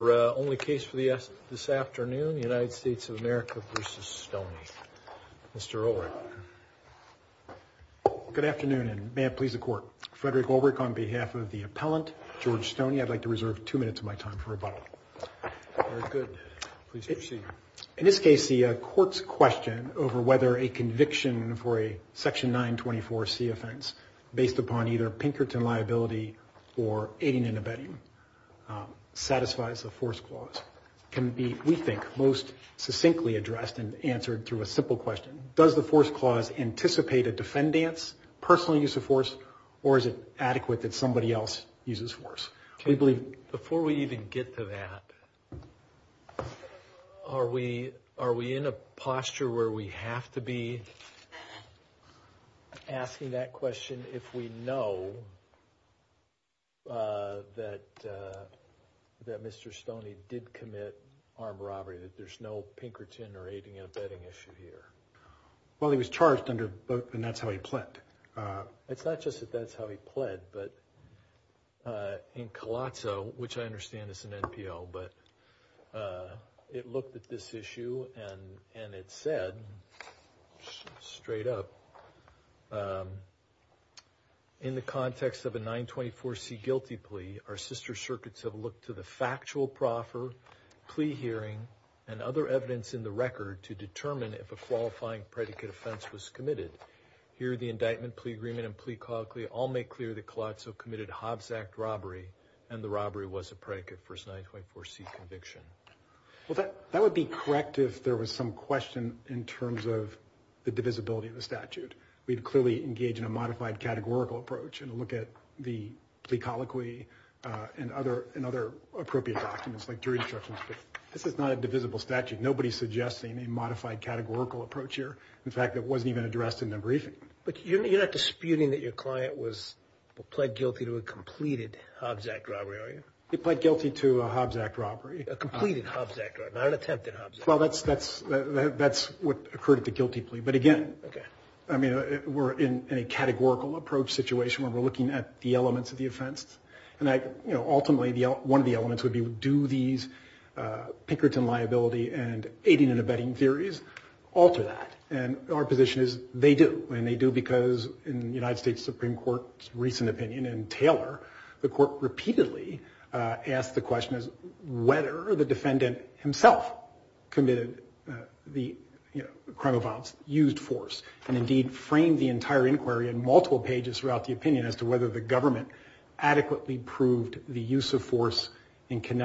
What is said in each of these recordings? only case for this afternoon, United States of America v. Stoney. Mr. Ulrich. Good afternoon, and may it please the court. Frederick Ulrich on behalf of the appellant, George Stoney. I'd like to reserve two minutes of my time for rebuttal. Good. Please proceed. In this case, the court's question over whether a conviction for a section 924 C offense based upon either Pinkerton liability or aiding and abetting satisfies the force clause can be, we think, most succinctly addressed and answered through a simple question. Does the force clause anticipate a defendant's personal use of force, or is it adequate that somebody else uses force? We believe... Before we even get to that, are we in a posture where we have to be asking that question if we know that Mr. Stoney did commit armed robbery, that there's no Pinkerton or aiding and abetting issue here? Well, he was charged under both, and that's how he pled. It's not just that that's how he pled, but in Colazzo, which I understand is an NPO, but it looked at this issue and it said, straight up, in the context of a 924 C guilty plea, our sister circuits have looked to the factual proffer, plea hearing, and other evidence in the record to determine if a qualifying predicate offense was committed. Here, the indictment, plea agreement, and plea colloquy all make clear that Colazzo committed Hobbs Act robbery if there was some question in terms of the divisibility of the statute. We'd clearly engage in a modified categorical approach and look at the plea colloquy and other appropriate documents, like jury instructions, but this is not a divisible statute. Nobody's suggesting a modified categorical approach here. In fact, it wasn't even addressed in the briefing. But you're not disputing that your client was, pled guilty to a completed Hobbs Act robbery, are you? He pled guilty to a Hobbs Act robbery. A completed Hobbs Act robbery, not an attempted Hobbs Act robbery. Well, that's what occurred at the guilty plea. But again, we're in a categorical approach situation where we're looking at the elements of the offense. Ultimately, one of the elements would be, do these Pinkerton liability and aiding and abetting theories alter that? And our position is, they do. And they do because in the United States Supreme Court's recent opinion in Taylor, the court repeatedly asked the question, whether the defendant himself committed the crime of violence, used force, and indeed framed the entire inquiry in multiple pages throughout the opinion as to whether the government adequately proved the use of force in And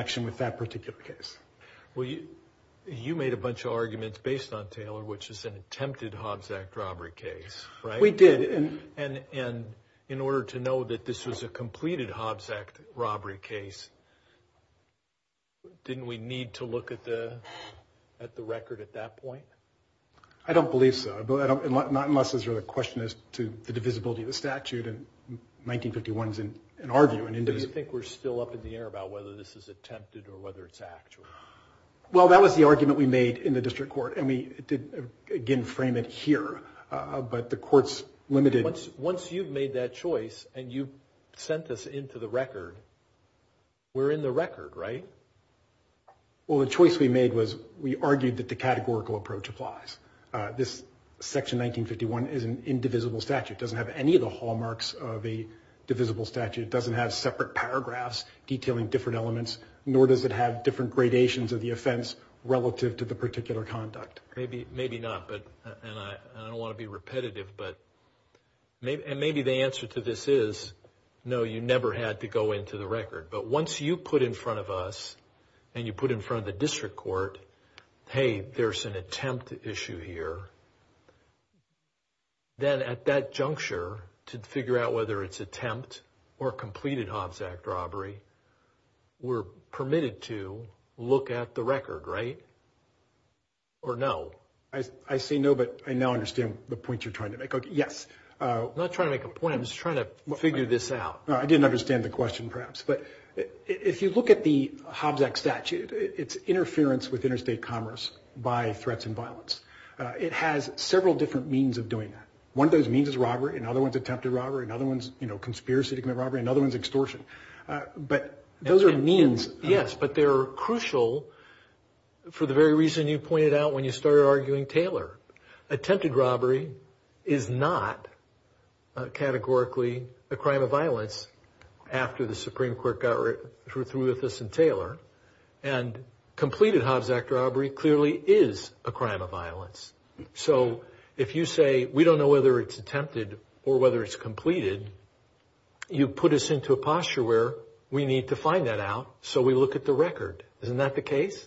in order to know that this was a completed Hobbs Act robbery case, didn't we need to look at the record at that point? I don't believe so. Not unless there's a question as to the divisibility of the statute. And 1951's an argument. Do you think we're still up in the air about whether this is attempted or whether it's actual? Well, that was the Once you've made that choice and you've sent this into the record, we're in the record, right? Well, the choice we made was we argued that the categorical approach applies. This Section 1951 is an indivisible statute. It doesn't have any of the hallmarks of a divisible statute. It doesn't have separate paragraphs detailing different elements, nor does it have different gradations of the offense relative to the particular conduct. Maybe not, and I don't want to be repetitive, but maybe the answer to this is, no, you never had to go into the record. But once you put in front of us and you put in front of the district court, hey, there's an attempt issue here, then at that juncture to figure out whether it's attempt or completed Hobbs Act robbery, we're permitted to look at the record, right? Or no? I say no, but I now understand the point you're trying to make. Yes. I'm not trying to make a point. I'm just trying to figure this out. I didn't understand the question, perhaps, but if you look at the Hobbs Act statute, it's interference with interstate commerce by threats and violence. It has several different means of doing that. One of those means is robbery. Another one's attempted robbery. Another one's conspiracy to commit robbery. Another one's extortion. But those are means. Yes, but they're crucial for the very reason you pointed out when you started arguing Taylor. Attempted robbery is not categorically a crime of violence after the Supreme Court got through with this in Taylor. And completed Hobbs Act robbery clearly is a crime of violence. So if you say we don't know whether it's attempted or whether it's completed, you put us into a posture where we need to find that out, so we look at the record. Isn't that the case?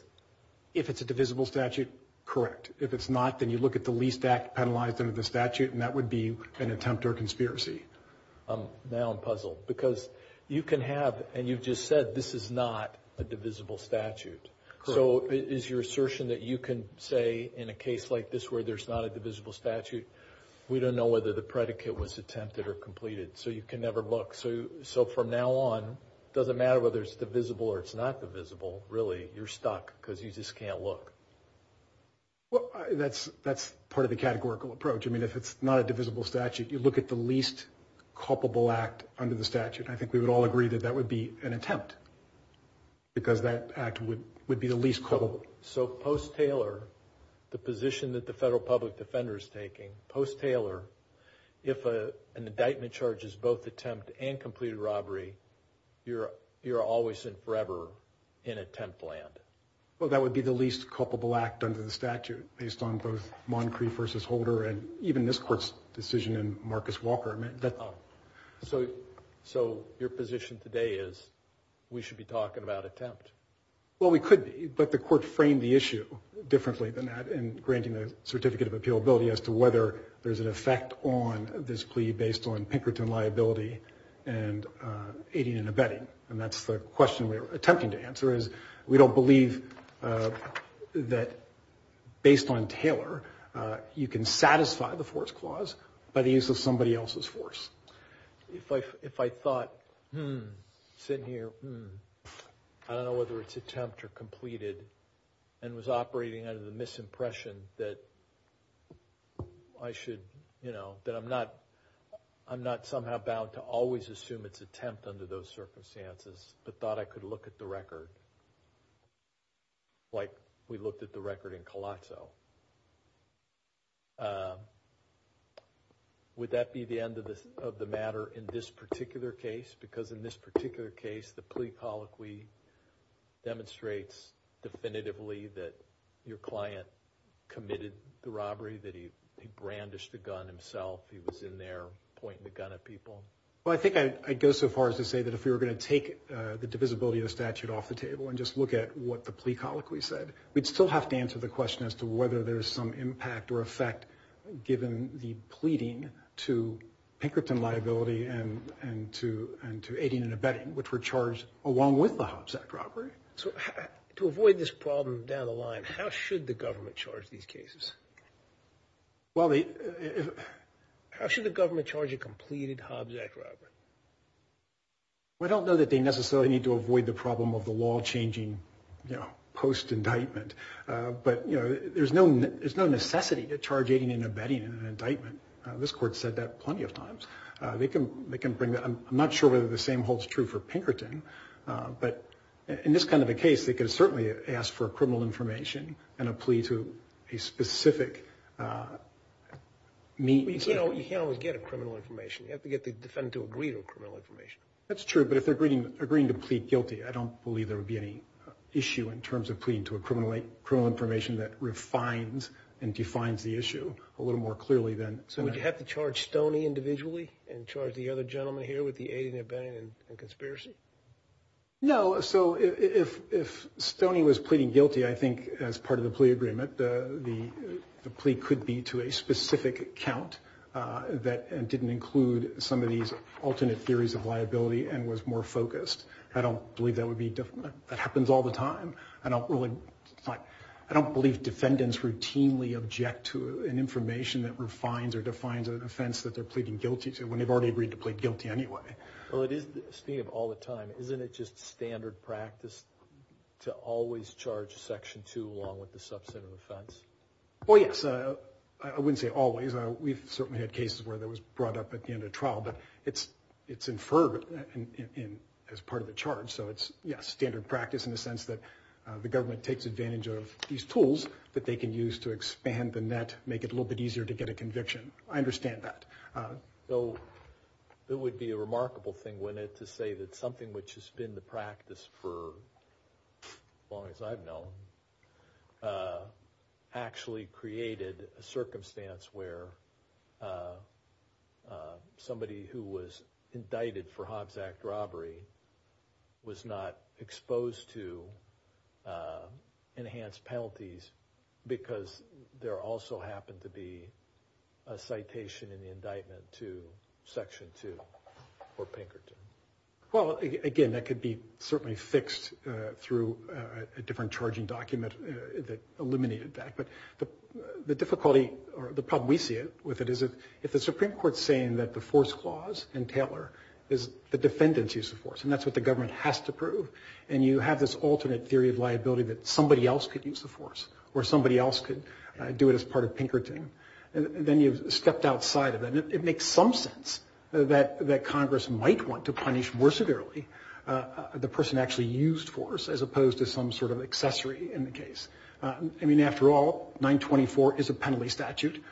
If it's a divisible statute, correct. If it's not, then you look at the least act penalized under the statute, and that would be an attempt or conspiracy. Now I'm puzzled because you can have, and you've just said this is not a divisible statute. So is your assertion that you can say in a case like this where there's not a divisible statute, we don't know whether the predicate was attempted or completed, so you can never look. So from now on, it doesn't matter whether it's divisible or it's not divisible. Really, you're stuck because you just can't look. Well, that's part of the categorical approach. I mean, if it's not a divisible statute, you look at the least culpable act under the statute. I think we would all agree that that would be an attempt because that act would be the least culpable. So post-Taylor, the position that the federal public defender is taking, post-Taylor, if an indictment charges both attempt and completed robbery, you're always and forever in attempt land. Well, that would be the least culpable act under the statute based on both Moncrief versus Holder and even this court's decision in Marcus Walker. So your position today is we should be talking about attempt. Well, we could be, but the court framed the issue differently than that in granting the certificate of appealability as to whether there's an effect on this plea based on Pinkerton liability and aiding and abetting. And that's the question we're attempting to answer is we don't believe that based on Taylor, you can satisfy the force clause by the use of somebody else's force. If I thought, hmm, sitting here, hmm, I don't know whether it's attempt or completed and was operating under the misimpression that I should, you know, that I'm not somehow bound to always assume it's attempt under those circumstances, but thought I could look at the record like we looked at the record in Colosso. Would that be the end of the matter in this particular case? Because in this particular case, the plea colloquy demonstrates definitively that your client committed the robbery, that he brandished a gun himself. He was in there pointing the gun at people. Well, I think I'd go so far as to say that if we were going to take the divisibility of the statute off the table and just look at what the plea colloquy said, we'd still have to answer the question as to whether there's some impact or effect given the pleading to Pinkerton liability and to aiding and abetting, which were charged along with the Hobbs Act robbery. So to avoid this problem down the line, how should the government charge these cases? Well, they... How should the government charge a completed Hobbs Act robbery? Well, I don't know that they necessarily need to avoid the problem of the law changing, you know, post-indictment. But, you know, there's no necessity to charge aiding and abetting in an indictment. This Court said that plenty of times. I'm not sure whether the same holds true for Pinkerton. But in this kind of a case, they can certainly ask for criminal information and a plea to a specific means. You know, you can't always get a criminal information. You have to get the defendant to agree to a criminal information. That's true. But if they're agreeing to plead guilty, I don't believe there would be any issue in terms of pleading to a criminal information that refines and defines the issue a little more clearly than... So would you have to charge Stoney individually and charge the other gentleman here with the aiding and abetting and conspiracy? No. So if Stoney was pleading guilty, I think as part of the plea agreement, the plea could be to a specific account that didn't include some of these alternate theories of liability and was more focused. I don't believe that would be... That happens all the time. I don't believe defendants routinely object to an information that refines or defines an offense that they're pleading guilty to when they've already agreed to plead guilty anyway. Well, speaking of all the time, isn't it just standard practice to always charge Section 2 along with the subset of offense? Well, yes. I wouldn't say always. We've certainly had cases where that was brought up at the end of trial. But it's inferred as part of the charge. So it's, yes, standard practice in the sense that the government takes advantage of these tools that they can use to expand the net, make it a little bit easier to get a conviction. I understand that. So it would be a remarkable thing, wouldn't it, to say that something which has been the practice for as long as I've known actually created a circumstance where somebody who was indicted for Hobbs Act robbery was not exposed to enhanced penalties because there also happened to be a citation in the indictment to Section 2 or Pinkerton? Well, again, that could be certainly fixed through a different charging document that eliminated that. But the difficulty or the problem we see with it is if the Supreme Court is saying that the force clause in Taylor is the defendant's use of force, and that's what the government has to prove, and you have this alternate theory of liability that somebody else could use the force or somebody else could do it as part of Pinkerton, then you've stepped outside of that. And it makes some sense that Congress might want to punish more severely the person who actually used force as opposed to some sort of accessory in the case. I mean, after all, 924 is a penalty statute.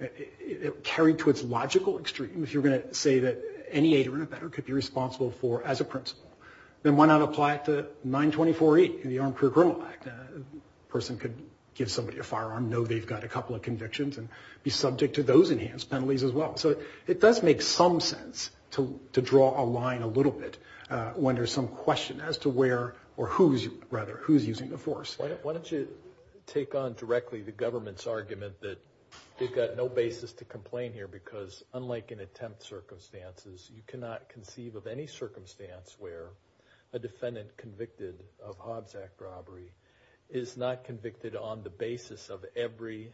It carried to its logical extremes. You're going to say that any aider and abetter could be responsible for as a principal. Then why not apply it to 924-8 in the Armed Career Criminal Act? A person could give somebody a firearm, know they've got a couple of convictions, and be subject to those enhanced penalties as well. So it does make some sense to draw a line a little bit when there's some question as to where or whose, rather, who's using the force. Why don't you take on directly the government's argument that you've got no basis to complain here because, unlike in attempt circumstances, you cannot conceive of any circumstance where a defendant convicted of Hobbs Act robbery is not convicted on the basis of every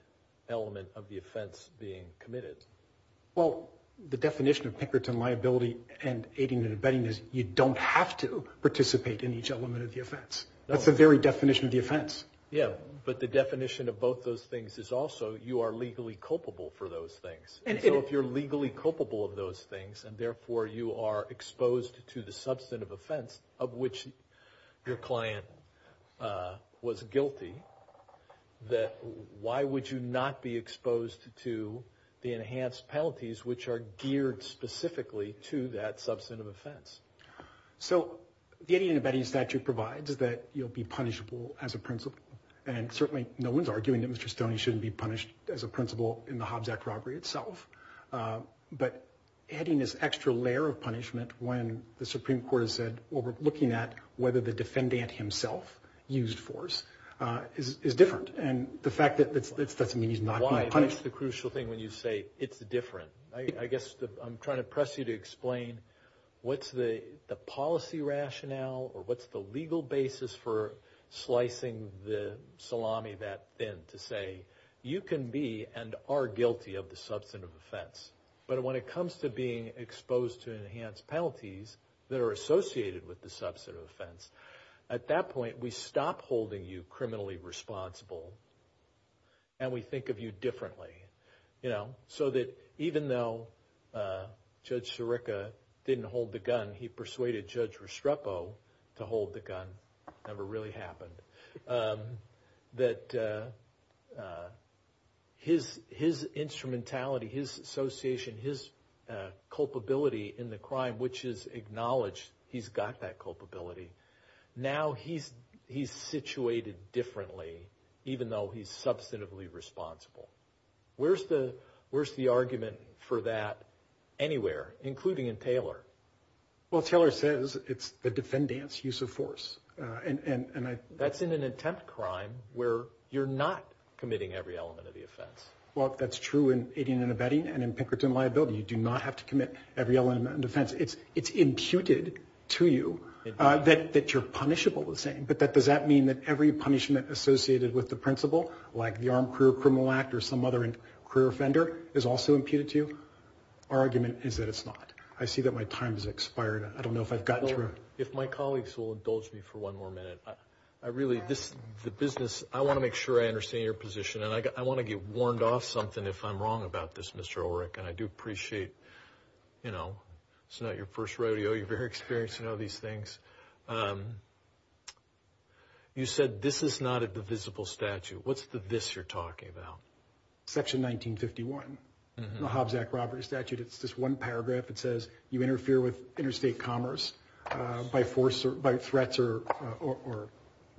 element of the offense being committed. Well, the definition of Pinkerton liability and aiding and abetting is you don't have to participate in each element of the offense. That's the very definition of the offense. Yeah, but the definition of both those things is also you are legally culpable for those things. And so if you're legally culpable of those things and, therefore, you are exposed to the substantive offense of which your client was guilty, then why would you not be exposed to the enhanced penalties which are geared specifically to that substantive offense? So the aiding and abetting statute provides that you'll be punishable as a principal, and certainly no one's arguing that Mr. Stoney shouldn't be punished as a principal in the Hobbs Act robbery itself. But adding this extra layer of punishment when the Supreme Court has said, well, we're looking at whether the defendant himself used force is different. And the fact that that doesn't mean he's not being punished. Why is the crucial thing when you say it's different? I guess I'm trying to press you to explain what's the policy rationale or what's the legal basis for slicing the salami that thin to say you can be and are guilty of the substantive offense. But when it comes to being exposed to enhanced penalties that are associated with the substantive offense, at that point we stop holding you criminally responsible and we think of you differently. So that even though Judge Sirica didn't hold the gun, he persuaded Judge Restrepo to hold the gun. Never really happened. That his instrumentality, his association, his culpability in the crime, which is acknowledged, he's got that culpability. Now he's situated differently even though he's substantively responsible. Where's the argument for that anywhere, including in Taylor? Well, Taylor says it's the defendant's use of force. That's in an attempt crime where you're not committing every element of the offense. Well, that's true in aiding and abetting and in Pinkerton liability. You do not have to commit every element of offense. It's imputed to you that you're punishable the same. But does that mean that every punishment associated with the principle, like the Armed Career Criminal Act or some other career offender, is also imputed to you? Our argument is that it's not. I see that my time has expired. I don't know if I've gotten through. If my colleagues will indulge me for one more minute. I really, the business, I want to make sure I understand your position. And I want to get warned off something if I'm wrong about this, Mr. Ulrich. And I do appreciate, you know, it's not your first rodeo. You're very experienced. You know these things. You said this is not a divisible statute. What's the this you're talking about? Section 1951, the Hobbs-Zach Roberts statute. It's just one paragraph. It says you interfere with interstate commerce by force or by threats or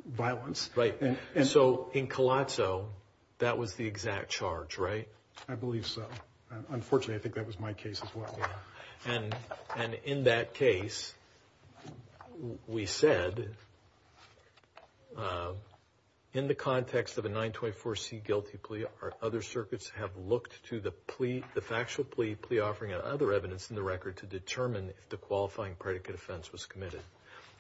violence. Right. So in Colosso, that was the exact charge, right? I believe so. Unfortunately, I think that was my case as well. And in that case, we said in the context of a 924C guilty plea, our other circuits have looked to the plea, the factual plea offering and other evidence in the record to determine if the qualifying predicate offense was committed.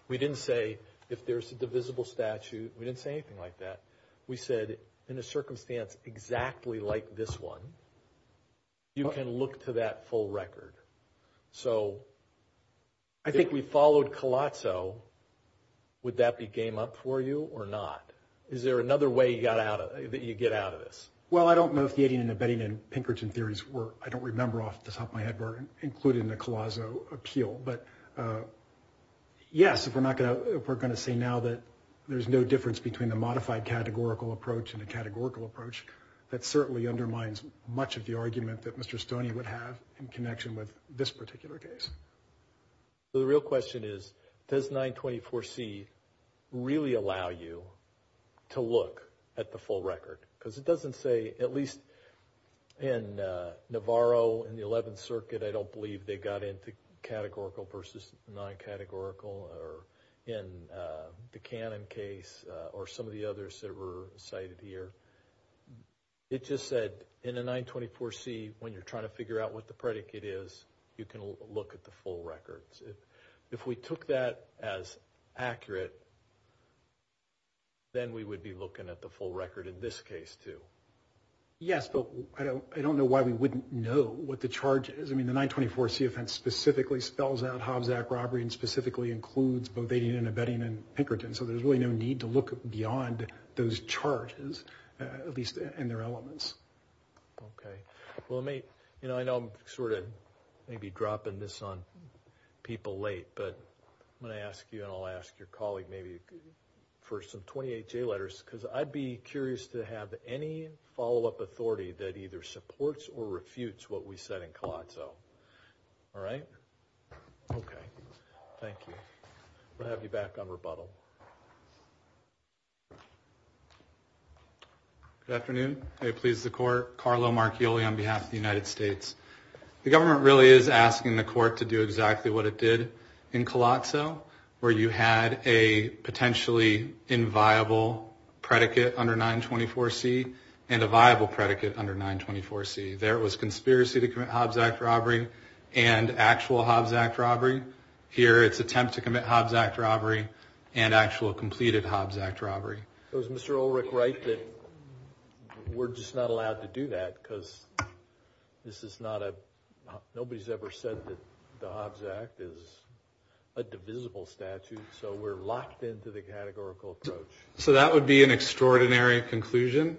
We didn't say if there's a divisible statute. We didn't say anything like that. We said in a circumstance exactly like this one, you can look to that full record. So I think we followed Colosso. Would that be game up for you or not? Is there another way that you get out of this? Well, I don't know if the aiding and abetting and Pinkerton theories were, I don't remember off the top of my head, were included in the Colosso appeal. But yes, if we're going to say now that there's no difference between the modified categorical approach and the categorical approach, that certainly undermines much of the argument that Mr. Stoney would have in connection with this particular case. The real question is, does 924C really allow you to look at the full record? Because it doesn't say, at least in Navarro and the 11th Circuit, I don't believe they got into categorical versus non-categorical or in the Cannon case or some of the others that were cited here. It just said in a 924C, when you're trying to figure out what the predicate is, you can look at the full records. If we took that as accurate, then we would be looking at the full record in this case too. Yes, but I don't know why we wouldn't know what the charge is. I mean, the 924C offense specifically spells out Hobbs Act robbery and specifically includes both aiding and abetting and Pinkerton, so there's really no need to look beyond those charges, at least in their elements. Okay. Well, I know I'm sort of maybe dropping this on people late, but I'm going to ask you and I'll ask your colleague maybe for some 28-J letters because I'd be curious to have any follow-up authority that either supports or refutes what we said in Colosso. All right? Okay. Thank you. We'll have you back on rebuttal. Good afternoon. May it please the Court. Carlo Marchioli on behalf of the United States. The government really is asking the Court to do exactly what it did in Colosso where you had a potentially inviolable predicate under 924C and a viable predicate under 924C. There was conspiracy to commit Hobbs Act robbery and actual Hobbs Act robbery. Here it's attempt to commit Hobbs Act robbery and actual completed Hobbs Act robbery. So is Mr. Ulrich right that we're just not allowed to do that because nobody's ever said that the Hobbs Act is a divisible statute, so we're locked into the categorical approach? So that would be an extraordinary conclusion.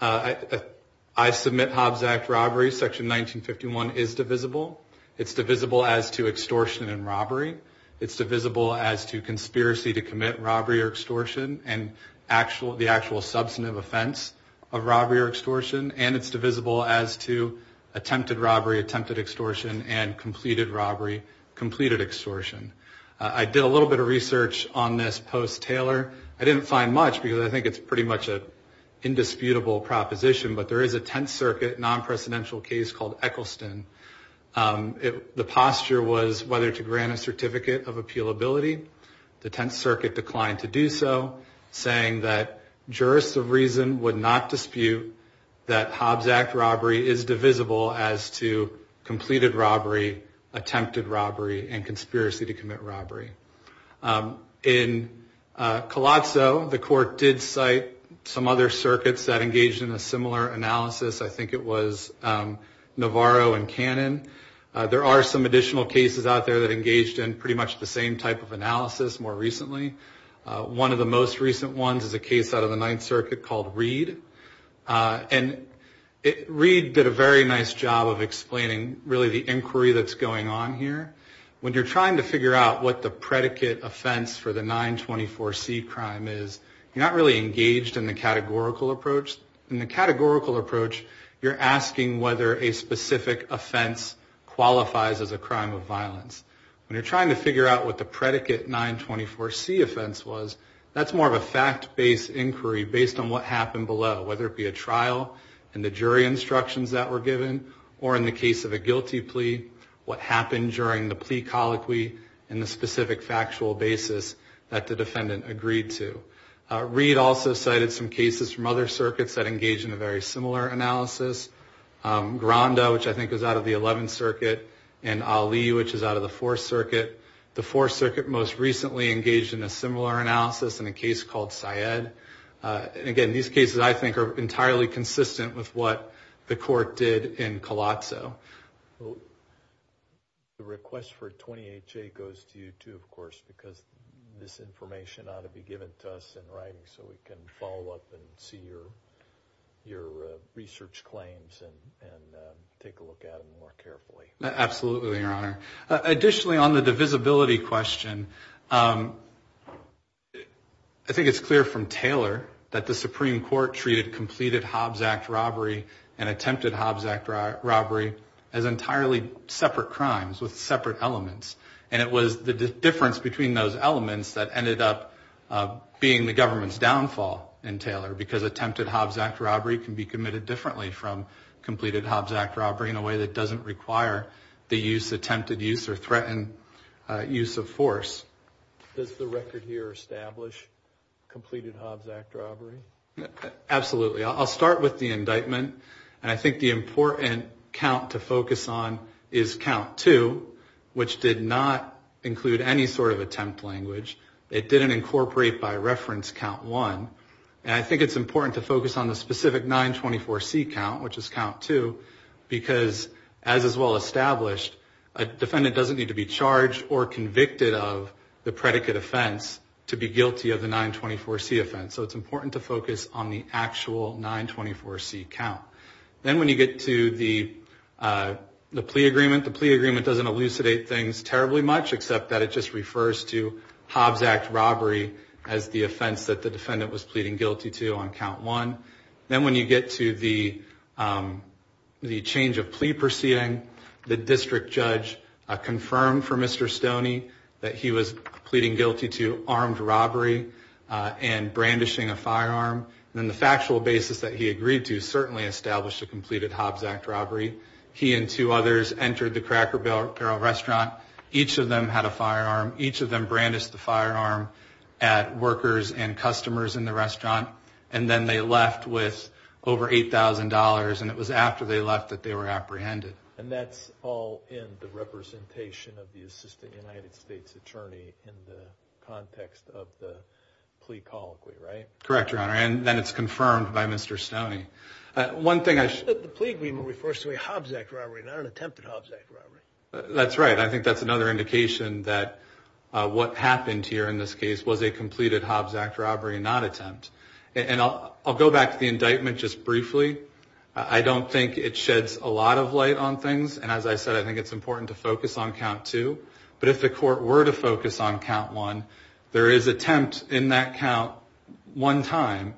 I submit Hobbs Act robbery, Section 1951, is divisible. It's divisible as to extortion and robbery. It's divisible as to conspiracy to commit robbery or extortion and the actual substantive offense of robbery or extortion, and it's divisible as to attempted robbery, attempted extortion, and completed robbery, completed extortion. I did a little bit of research on this post-Taylor. I didn't find much because I think it's pretty much an indisputable proposition, but there is a Tenth Circuit non-presidential case called Eccleston. The posture was whether to grant a certificate of appealability. The Tenth Circuit declined to do so, saying that jurists of reason would not dispute that Hobbs Act robbery is divisible as to completed robbery, attempted robbery, and conspiracy to commit robbery. In Colosso, the court did cite some other circuits that engaged in a similar analysis. I think it was Navarro and Cannon. There are some additional cases out there that engaged in pretty much the same type of analysis more recently. One of the most recent ones is a case out of the Ninth Circuit called Reed. Reed did a very nice job of explaining really the inquiry that's going on here. When you're trying to figure out what the predicate offense for the 924C crime is, you're not really engaged in the categorical approach. In the categorical approach, you're asking whether a specific offense qualifies as a crime of violence. When you're trying to figure out what the predicate 924C offense was, that's more of a fact-based inquiry based on what happened below, whether it be a trial and the jury instructions that were given, or in the case of a guilty plea, what happened during the plea colloquy and the specific factual basis that the defendant agreed to. Reed also cited some cases from other circuits that engaged in a very similar analysis. Gronda, which I think is out of the Eleventh Circuit, and Ali, which is out of the Fourth Circuit. The Fourth Circuit most recently engaged in a similar analysis in a case called Syed. Again, these cases I think are entirely consistent with what the court did in Colazzo. The request for 28J goes to you too, of course, so we can follow up and see your research claims and take a look at them more carefully. Absolutely, Your Honor. Additionally, on the divisibility question, I think it's clear from Taylor that the Supreme Court treated completed Hobbs Act robbery and attempted Hobbs Act robbery as entirely separate crimes with separate elements. And it was the difference between those elements that ended up being the government's downfall in Taylor because attempted Hobbs Act robbery can be committed differently from completed Hobbs Act robbery in a way that doesn't require the use, attempted use, or threatened use of force. Does the record here establish completed Hobbs Act robbery? Absolutely. I'll start with the indictment. And I think the important count to focus on is count two, which did not include any sort of attempt language. It didn't incorporate by reference count one. And I think it's important to focus on the specific 924C count, which is count two, because as is well established, a defendant doesn't need to be charged or convicted of the predicate offense to be guilty of the 924C offense. So it's important to focus on the actual 924C count. Then when you get to the plea agreement, the plea agreement doesn't elucidate things terribly much, except that it just refers to Hobbs Act robbery as the offense that the defendant was pleading guilty to on count one. Then when you get to the change of plea proceeding, the district judge confirmed for Mr. Stoney that he was pleading guilty to armed robbery and brandishing a firearm. Then the factual basis that he agreed to certainly established a completed Hobbs Act robbery. He and two others entered the Cracker Barrel restaurant. Each of them had a firearm. Each of them brandished the firearm at workers and customers in the restaurant. And then they left with over $8,000. And it was after they left that they were apprehended. And that's all in the representation of the assistant United States attorney in the context of the plea colloquy, right? Correct, Your Honor. And then it's confirmed by Mr. Stoney. The plea agreement refers to a Hobbs Act robbery, not an attempted Hobbs Act robbery. That's right. I think that's another indication that what happened here in this case was a completed Hobbs Act robbery, not attempt. And I'll go back to the indictment just briefly. I don't think it sheds a lot of light on things. And as I said, I think it's important to focus on count two. But if the court were to focus on count one, there is attempt in that count one time.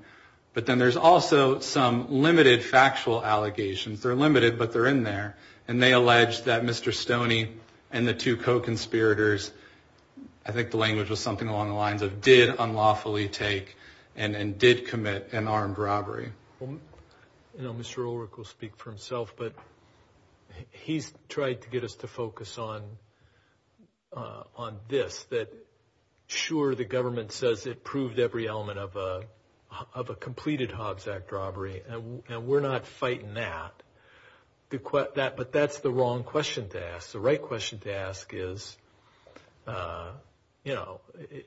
But then there's also some limited factual allegations. They're limited, but they're in there. And they allege that Mr. Stoney and the two co-conspirators, I think the language was something along the lines of did unlawfully take and did commit an armed robbery. You know, Mr. Ulrich will speak for himself, but he's tried to get us to focus on this, that sure, the government says it proved every element of a completed Hobbs Act robbery, and we're not fighting that. But that's the wrong question to ask. The right question to ask is, you know,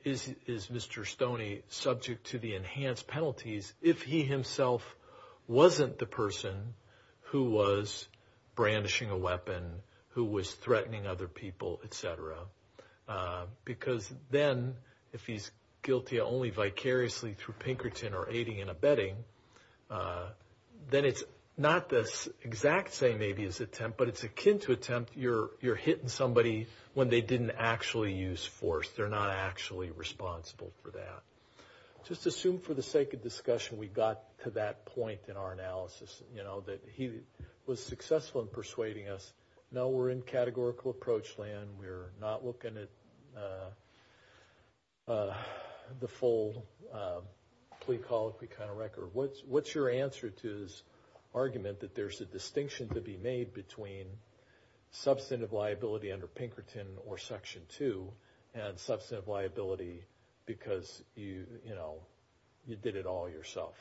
is Mr. Stoney subject to the enhanced penalties if he himself wasn't the person who was brandishing a weapon, who was threatening other people, et cetera? Because then if he's guilty only vicariously through Pinkerton or aiding and abetting, then it's not the exact same maybe as attempt, but it's akin to attempt. You're hitting somebody when they didn't actually use force. They're not actually responsible for that. Just assume for the sake of discussion we got to that point in our analysis, you know, that he was successful in persuading us, no, we're in categorical approach land. We're not looking at the full plea colloquy kind of record. What's your answer to his argument that there's a distinction to be made between substantive liability under Pinkerton or Section 2 and substantive liability because, you know, you did it all yourself?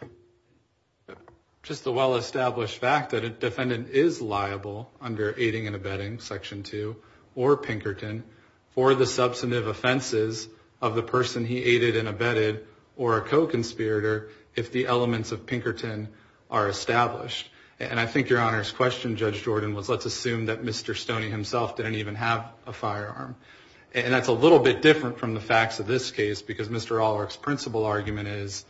Just the well-established fact that a defendant is liable under aiding and abetting Section 2 or Pinkerton for the substantive offenses of the person he aided and abetted or a co-conspirator if the elements of Pinkerton are established. And I think Your Honor's question, Judge Jordan, was let's assume that Mr. Stoney himself didn't even have a firearm, and that's a little bit different from the facts of this case because Mr. Alwork's principal argument is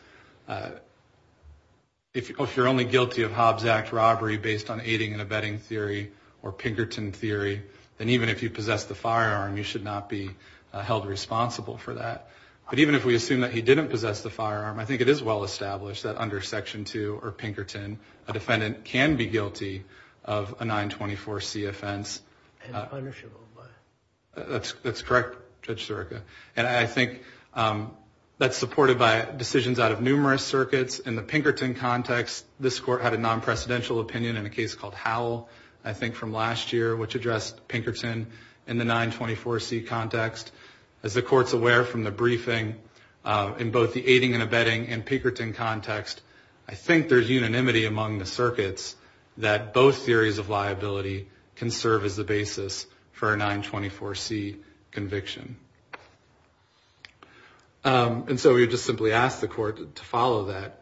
if you're only guilty of Hobbs Act robbery based on aiding and abetting theory or Pinkerton theory, then even if you possess the firearm, you should not be held responsible for that. But even if we assume that he didn't possess the firearm, I think it is well-established that under Section 2 or Pinkerton, a defendant can be guilty of a 924C offense. And punishable by? That's correct, Judge Sirica. And I think that's supported by decisions out of numerous circuits. In the Pinkerton context, this Court had a non-precedential opinion in a case called Howell, I think from last year, which addressed Pinkerton in the 924C context. As the Court's aware from the briefing, in both the aiding and abetting and Pinkerton context, I think there's unanimity among the circuits that both theories of liability can serve as the basis for a 924C conviction. And so we would just simply ask the Court to follow that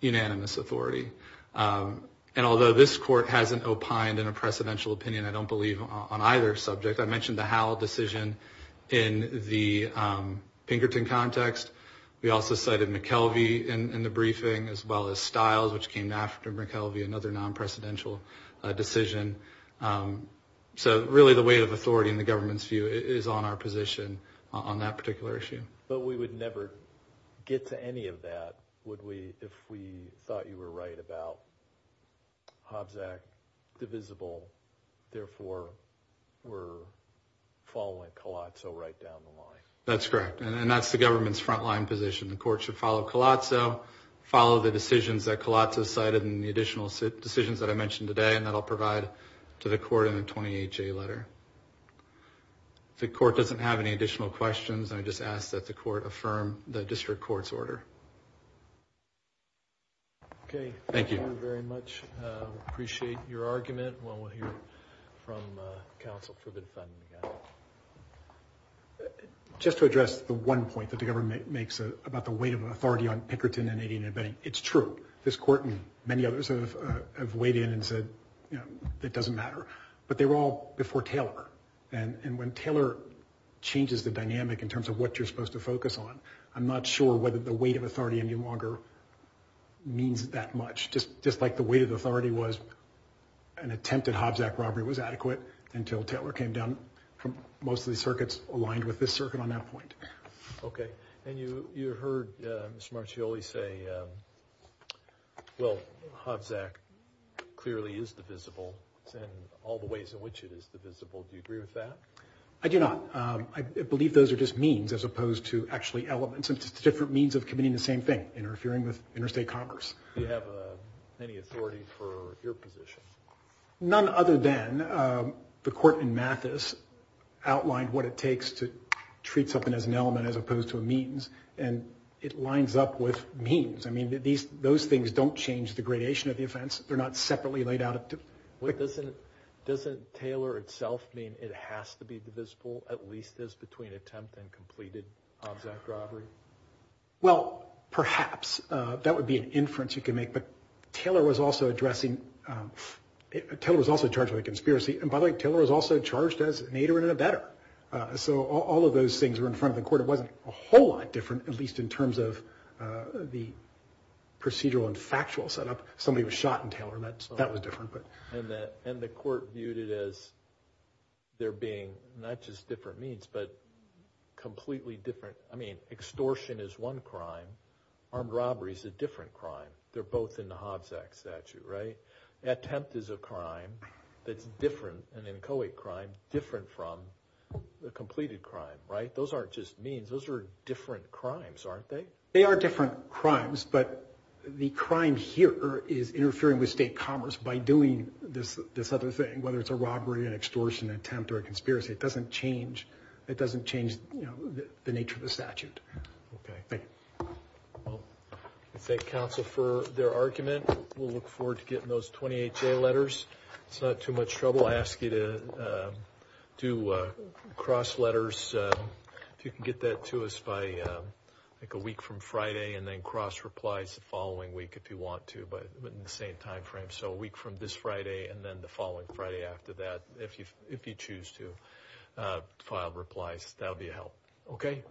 unanimous authority. And although this Court hasn't opined in a precedential opinion, I don't believe, on either subject. I mentioned the Howell decision in the Pinkerton context. We also cited McKelvey in the briefing, as well as Stiles, which came after McKelvey, another non-precedential decision. So really the weight of authority in the government's view is on our position on that particular issue. But we would never get to any of that if we thought you were right about Hobbs Act divisible, and therefore were following Colazzo right down the line. That's correct, and that's the government's front-line position. The Court should follow Colazzo, follow the decisions that Colazzo cited, and the additional decisions that I mentioned today, and that I'll provide to the Court in the 28J letter. If the Court doesn't have any additional questions, I just ask that the Court affirm the District Court's order. Okay, thank you very much. We appreciate your argument, and we'll hear from counsel for the defending again. Just to address the one point that the government makes about the weight of authority on Pinkerton and Indian Abetting, it's true. This Court and many others have weighed in and said, you know, it doesn't matter. But they were all before Taylor, and when Taylor changes the dynamic in terms of what you're supposed to focus on, I'm not sure whether the weight of authority any longer means that much. Just like the weight of authority was an attempt at Hobbs Act robbery was adequate until Taylor came down from most of the circuits aligned with this circuit on that point. Okay, and you heard Mr. Marchioli say, well, Hobbs Act clearly is divisible in all the ways in which it is divisible. Do you agree with that? I do not. I believe those are just means as opposed to actually elements. It's just different means of committing the same thing, interfering with interstate commerce. Do you have any authority for your position? None other than the Court in Mathis outlined what it takes to treat something as an element as opposed to a means, and it lines up with means. I mean, those things don't change the gradation of the offense. They're not separately laid out. Doesn't Taylor itself mean it has to be divisible, at least as between attempt and completed Hobbs Act robbery? Well, perhaps. That would be an inference you could make. But Taylor was also addressing, Taylor was also charged with a conspiracy. And by the way, Taylor was also charged as an aider and abetter. So all of those things were in front of the Court. It wasn't a whole lot different, at least in terms of the procedural and factual setup. Somebody was shot in Taylor, and that was different. And the Court viewed it as there being not just different means, but completely different. I mean, extortion is one crime. Armed robbery is a different crime. They're both in the Hobbs Act statute, right? Attempt is a crime that's different, an inchoate crime, different from the completed crime, right? Those aren't just means. Those are different crimes, aren't they? They are different crimes, but the crime here is interfering with state commerce by doing this other thing, whether it's a robbery, an extortion attempt, or a conspiracy. It doesn't change the nature of the statute. Okay. Thank you. Well, we thank counsel for their argument. We'll look forward to getting those 28-J letters. It's not too much trouble. I'll ask you to do cross-letters. If you can get that to us by, I think, a week from Friday, and then cross-replies the following week if you want to, but in the same time frame. So a week from this Friday and then the following Friday after that, if you choose to file replies, that would be a help. Okay.